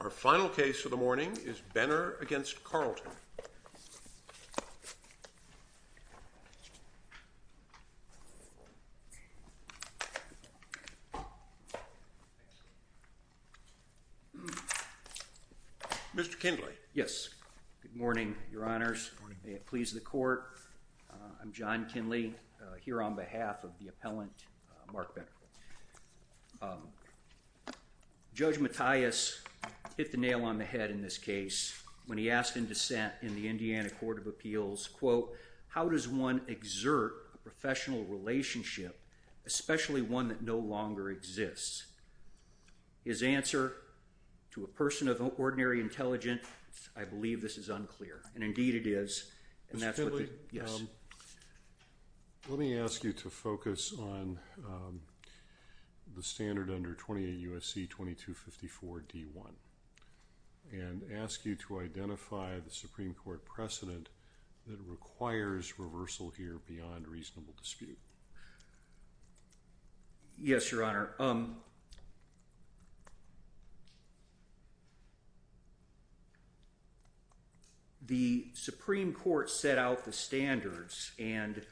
Our final case of the morning is Benner v. Carlton. Mr. Kinley. Yes. Good morning, Your Honors. May it please the Court. I'm John Kinley, here on behalf of the appellant Mark Benner. Judge Mattias hit the nail on the head in this case when he asked in dissent in the Indiana Court of Appeals, quote, How does one exert a professional relationship, especially one that no longer exists? His answer, to a person of ordinary intelligence, I believe this is unclear. And indeed it is. Mr. Kinley, let me ask you to focus on the standard under 28 U.S.C. 2254 D.1. And ask you to identify the Supreme Court precedent that requires reversal here beyond reasonable dispute. Yes, Your Honor. The Supreme Court set out the standards and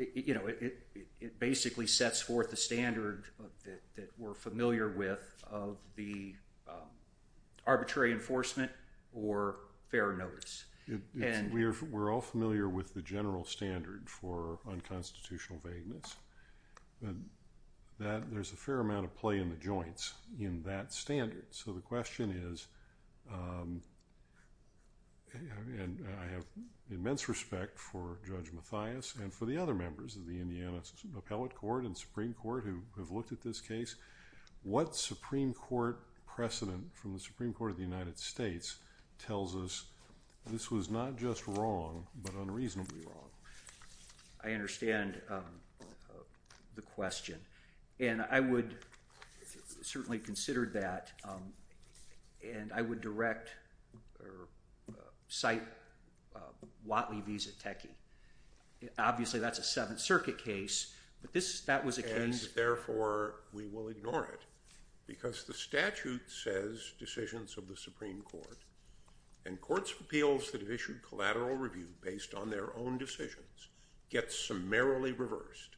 it basically sets forth the standard that we're familiar with of the arbitrary enforcement or fair notice. We're all familiar with the general standard for unconstitutional vagueness. There's a fair amount of play in the joints in that standard. So the question is, and I have immense respect for Judge Mattias and for the other members of the Indiana Appellate Court and Supreme Court who have looked at this case, what Supreme Court precedent from the Supreme Court of the United States tells us this was not just wrong, but unreasonably wrong? I understand the question. And I would certainly consider that. And I would direct or cite Watley v. Zateki. Obviously that's a Seventh Circuit case, but that was a case— because the statute says decisions of the Supreme Court and courts' appeals that have issued collateral review based on their own decisions get summarily reversed.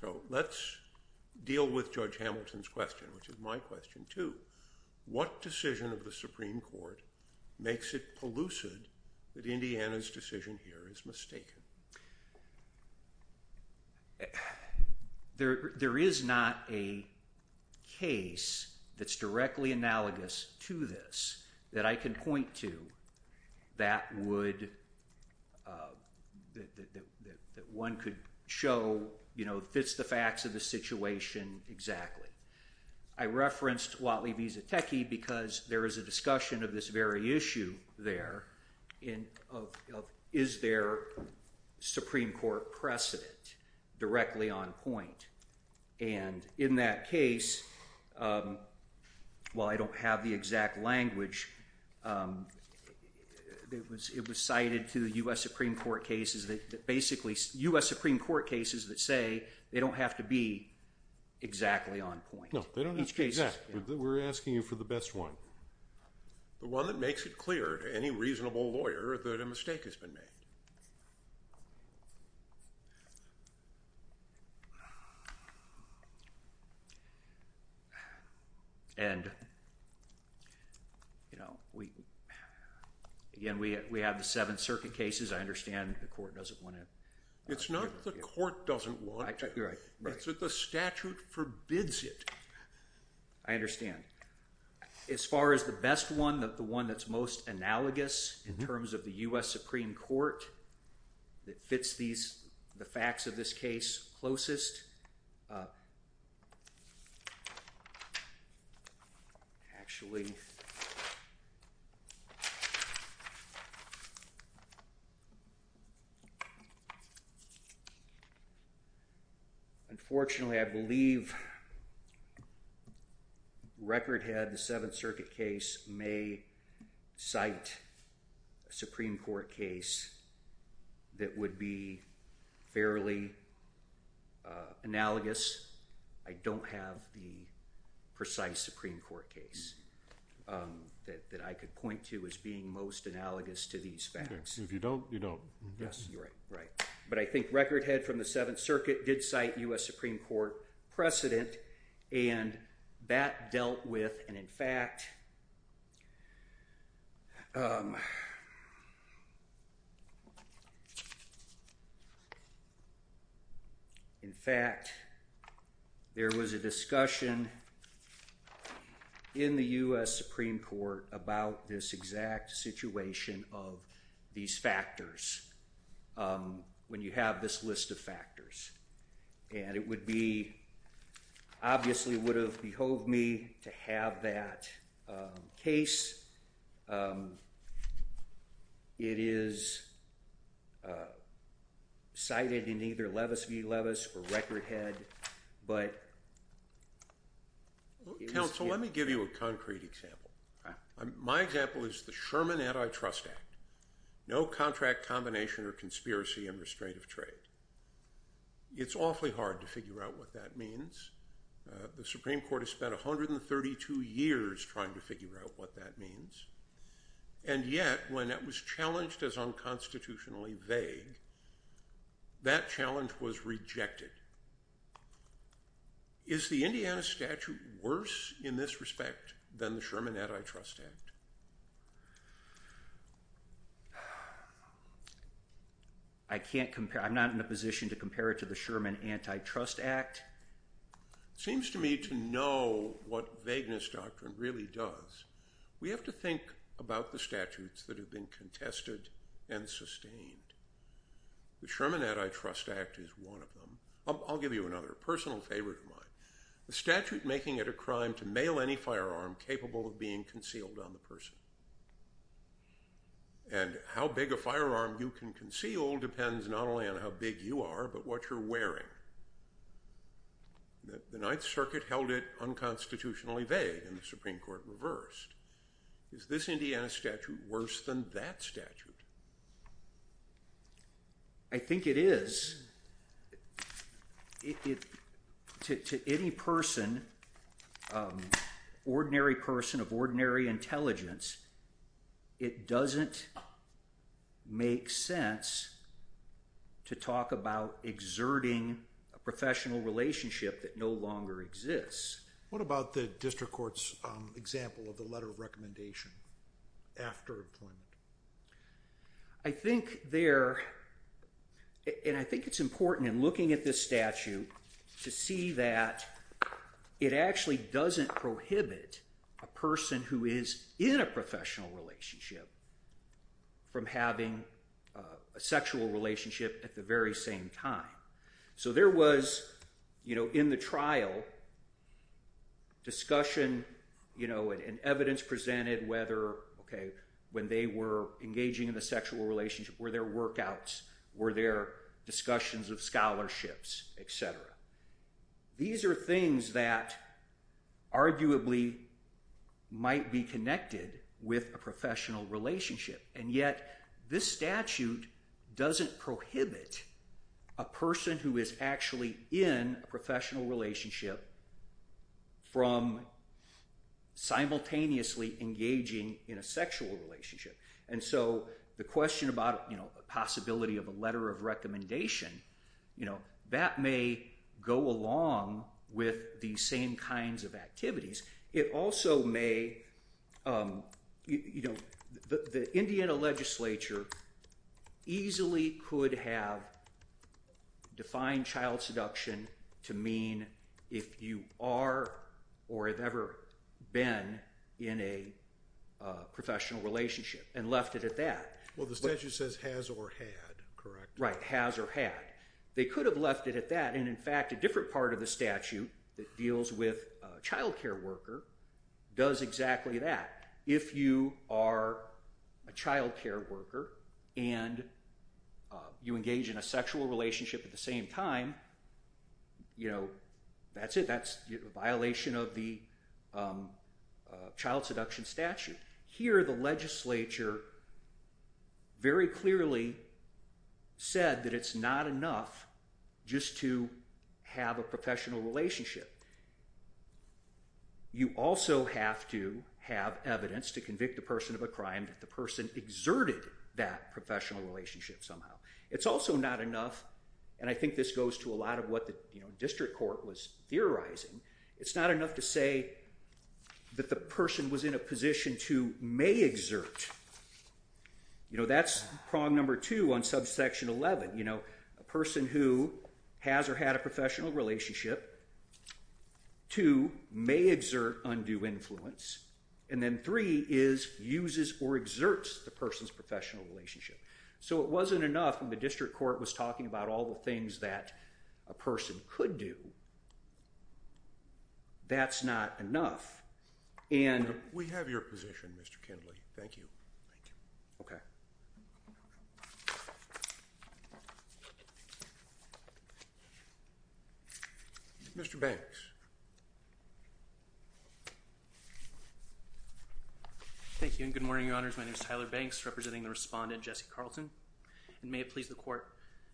So let's deal with Judge Hamilton's question, which is my question, too. What decision of the Supreme Court makes it pellucid that Indiana's decision here is mistaken? There is not a case that's directly analogous to this that I can point to that one could show fits the facts of the situation exactly. I referenced Watley v. Zateki because there is a discussion of this very issue there of is there Supreme Court precedent directly on point? And in that case, while I don't have the exact language, it was cited to the U.S. Supreme Court cases that basically— U.S. Supreme Court cases that say they don't have to be exactly on point. No, they don't have to be exact. We're asking you for the best one. The one that makes it clear to any reasonable lawyer that a mistake has been made. And, you know, we—again, we have the Seventh Circuit cases. I understand the court doesn't want to— It's not the court doesn't want to. You're right. It's that the statute forbids it. I understand. As far as the best one, the one that's most analogous in terms of the U.S. Supreme Court that fits these—the facts of this case closest, actually, unfortunately, I believe Recordhead, the Seventh Circuit case, may cite a Supreme Court case that would be fairly analogous. I don't have the precise Supreme Court case that I could point to as being most analogous to these facts. If you don't, you don't. Yes, you're right. Right. But I think Recordhead from the Seventh Circuit did cite U.S. Supreme Court precedent, and that dealt with—and, in fact, in fact, there was a discussion in the U.S. Supreme Court about this exact situation of these factors when you have this list of factors. And it would be—obviously, it would have behoved me to have that case. It is cited in either Levis v. Levis or Recordhead, but it was— Counsel, let me give you a concrete example. My example is the Sherman Antitrust Act. No contract combination or conspiracy in restraint of trade. It's awfully hard to figure out what that means. The Supreme Court has spent 132 years trying to figure out what that means. And yet, when it was challenged as unconstitutionally vague, that challenge was rejected. Is the Indiana statute worse in this respect than the Sherman Antitrust Act? I can't compare—I'm not in a position to compare it to the Sherman Antitrust Act. It seems to me to know what vagueness doctrine really does. We have to think about the statutes that have been contested and sustained. The Sherman Antitrust Act is one of them. I'll give you another personal favorite of mine. The statute making it a crime to mail any firearm capable of being concealed on the person. And how big a firearm you can conceal depends not only on how big you are, but what you're wearing. The Ninth Circuit held it unconstitutionally vague, and the Supreme Court reversed. Is this Indiana statute worse than that statute? I think it is. To any person, ordinary person of ordinary intelligence, it doesn't make sense to talk about exerting a professional relationship that no longer exists. What about the district court's example of the letter of recommendation after employment? I think there—and I think it's important in looking at this statute to see that it actually doesn't prohibit a person who is in a professional relationship from having a sexual relationship at the very same time. So there was, you know, in the trial, discussion, you know, and evidence presented whether, okay, when they were engaging in a sexual relationship, were there workouts, were there discussions of scholarships, etc. These are things that arguably might be connected with a professional relationship. And yet, this statute doesn't prohibit a person who is actually in a professional relationship from simultaneously engaging in a sexual relationship. And so the question about, you know, the possibility of a letter of recommendation, you know, that may go along with these same kinds of activities. It also may, you know, the Indiana legislature easily could have defined child seduction to mean if you are or have ever been in a professional relationship and left it at that. Well, the statute says has or had, correct? Right, has or had. They could have left it at that, and in fact, a different part of the statute that deals with a child care worker does exactly that. If you are a child care worker and you engage in a sexual relationship at the same time, you know, that's it, that's a violation of the child seduction statute. Here, the legislature very clearly said that it's not enough just to have a professional relationship. You also have to have evidence to convict a person of a crime that the person exerted that professional relationship somehow. It's also not enough, and I think this goes to a lot of what the district court was theorizing, it's not enough to say that the person was in a position to may exert. You know, that's problem number two on subsection 11. A person who has or had a professional relationship, two, may exert undue influence, and then three is uses or exerts the person's professional relationship. So it wasn't enough when the district court was talking about all the things that a person could do. That's not enough. We have your position, Mr. Kindley. Thank you. Thank you. Okay. Mr. Banks. Thank you, and good morning, Your Honors. My name is Tyler Banks, representing the respondent, Jesse Carlton, and may it please the Court,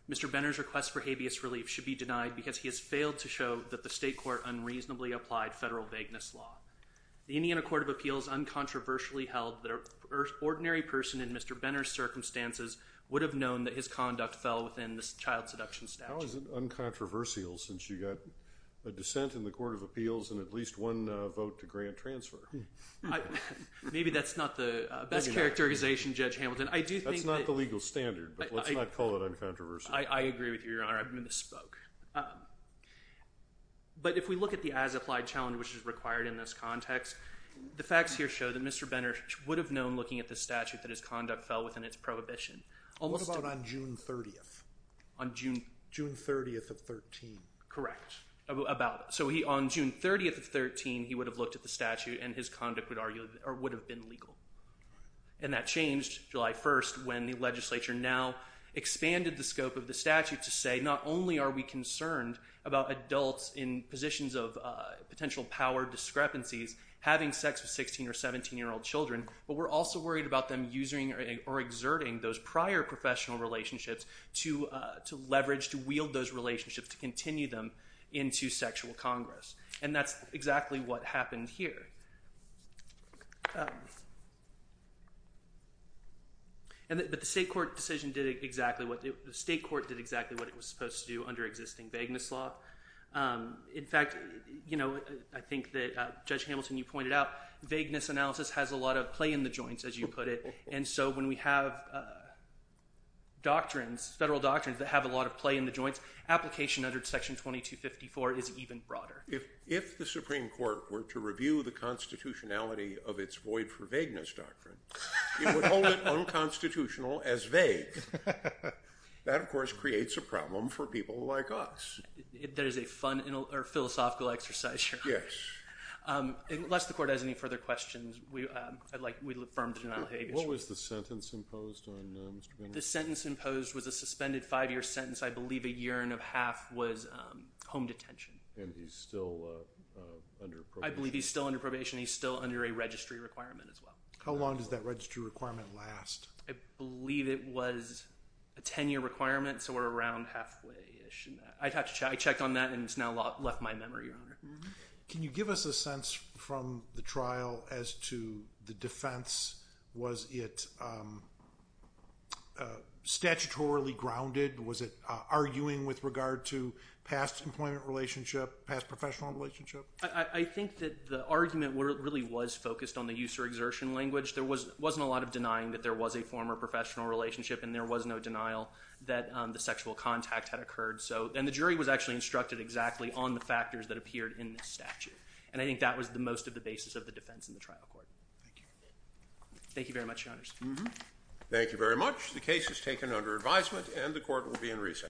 Mr. Benner's request for habeas relief should be denied because he has failed to show that the state court unreasonably applied federal vagueness law. The Indiana Court of Appeals uncontroversially held that an ordinary person in Mr. Benner's circumstances would have known that his conduct fell within the child seduction statute. How is it uncontroversial since you got a dissent in the Court of Appeals and at least one vote to grant transfer? Maybe that's not the best characterization, Judge Hamilton. That's not the legal standard, but let's not call it uncontroversial. I agree with you, Your Honor. I misspoke. But if we look at the as-applied challenge which is required in this context, the facts here show that Mr. Benner would have known looking at the statute that his conduct fell within its prohibition. What about on June 30th? On June... June 30th of 13. Correct. So on June 30th of 13, he would have looked at the statute and his conduct would have been legal. And that changed July 1st when the legislature now expanded the scope of the statute to say not only are we concerned about adults in positions of potential power discrepancies having sex with 16- or 17-year-old children, but we're also worried about them using or exerting those prior professional relationships to leverage, to wield those relationships, to continue them into sexual congress. And that's exactly what happened here. But the state court decision did exactly what... the state court did exactly what it was supposed to do under existing vagueness law. In fact, you know, I think that Judge Hamilton, you pointed out, vagueness analysis has a lot of play in the joints, as you put it, and so when we have doctrines, federal doctrines that have a lot of play in the joints, application under Section 2254 is even broader. If the Supreme Court were to review the constitutionality of its void for vagueness doctrine, it would hold it unconstitutional as vague. That, of course, creates a problem for people like us. That is a fun or philosophical exercise. Yes. Unless the court has any further questions, I'd like to affirm the denial of habeas. What was the sentence imposed on Mr. Benner? The sentence imposed was a suspended five-year sentence. I believe a year and a half was home detention. And he's still under probation? I believe he's still under probation. He's still under a registry requirement as well. How long does that registry requirement last? I believe it was a ten-year requirement, so we're around halfway. I checked on that, and it's now left my memory, Your Honor. Can you give us a sense from the trial as to the defense? Was it statutorily grounded? Was it arguing with regard to past employment relationship, past professional relationship? I think that the argument really was focused on the use or exertion language. There wasn't a lot of denying that there was a former professional relationship, and there was no denial that the sexual contact had occurred. And the jury was actually instructed exactly on the factors that appeared in the statute. And I think that was most of the basis of the defense in the trial court. Thank you. Thank you very much, Your Honors. Thank you very much. The case is taken under advisement, and the court will be in recess.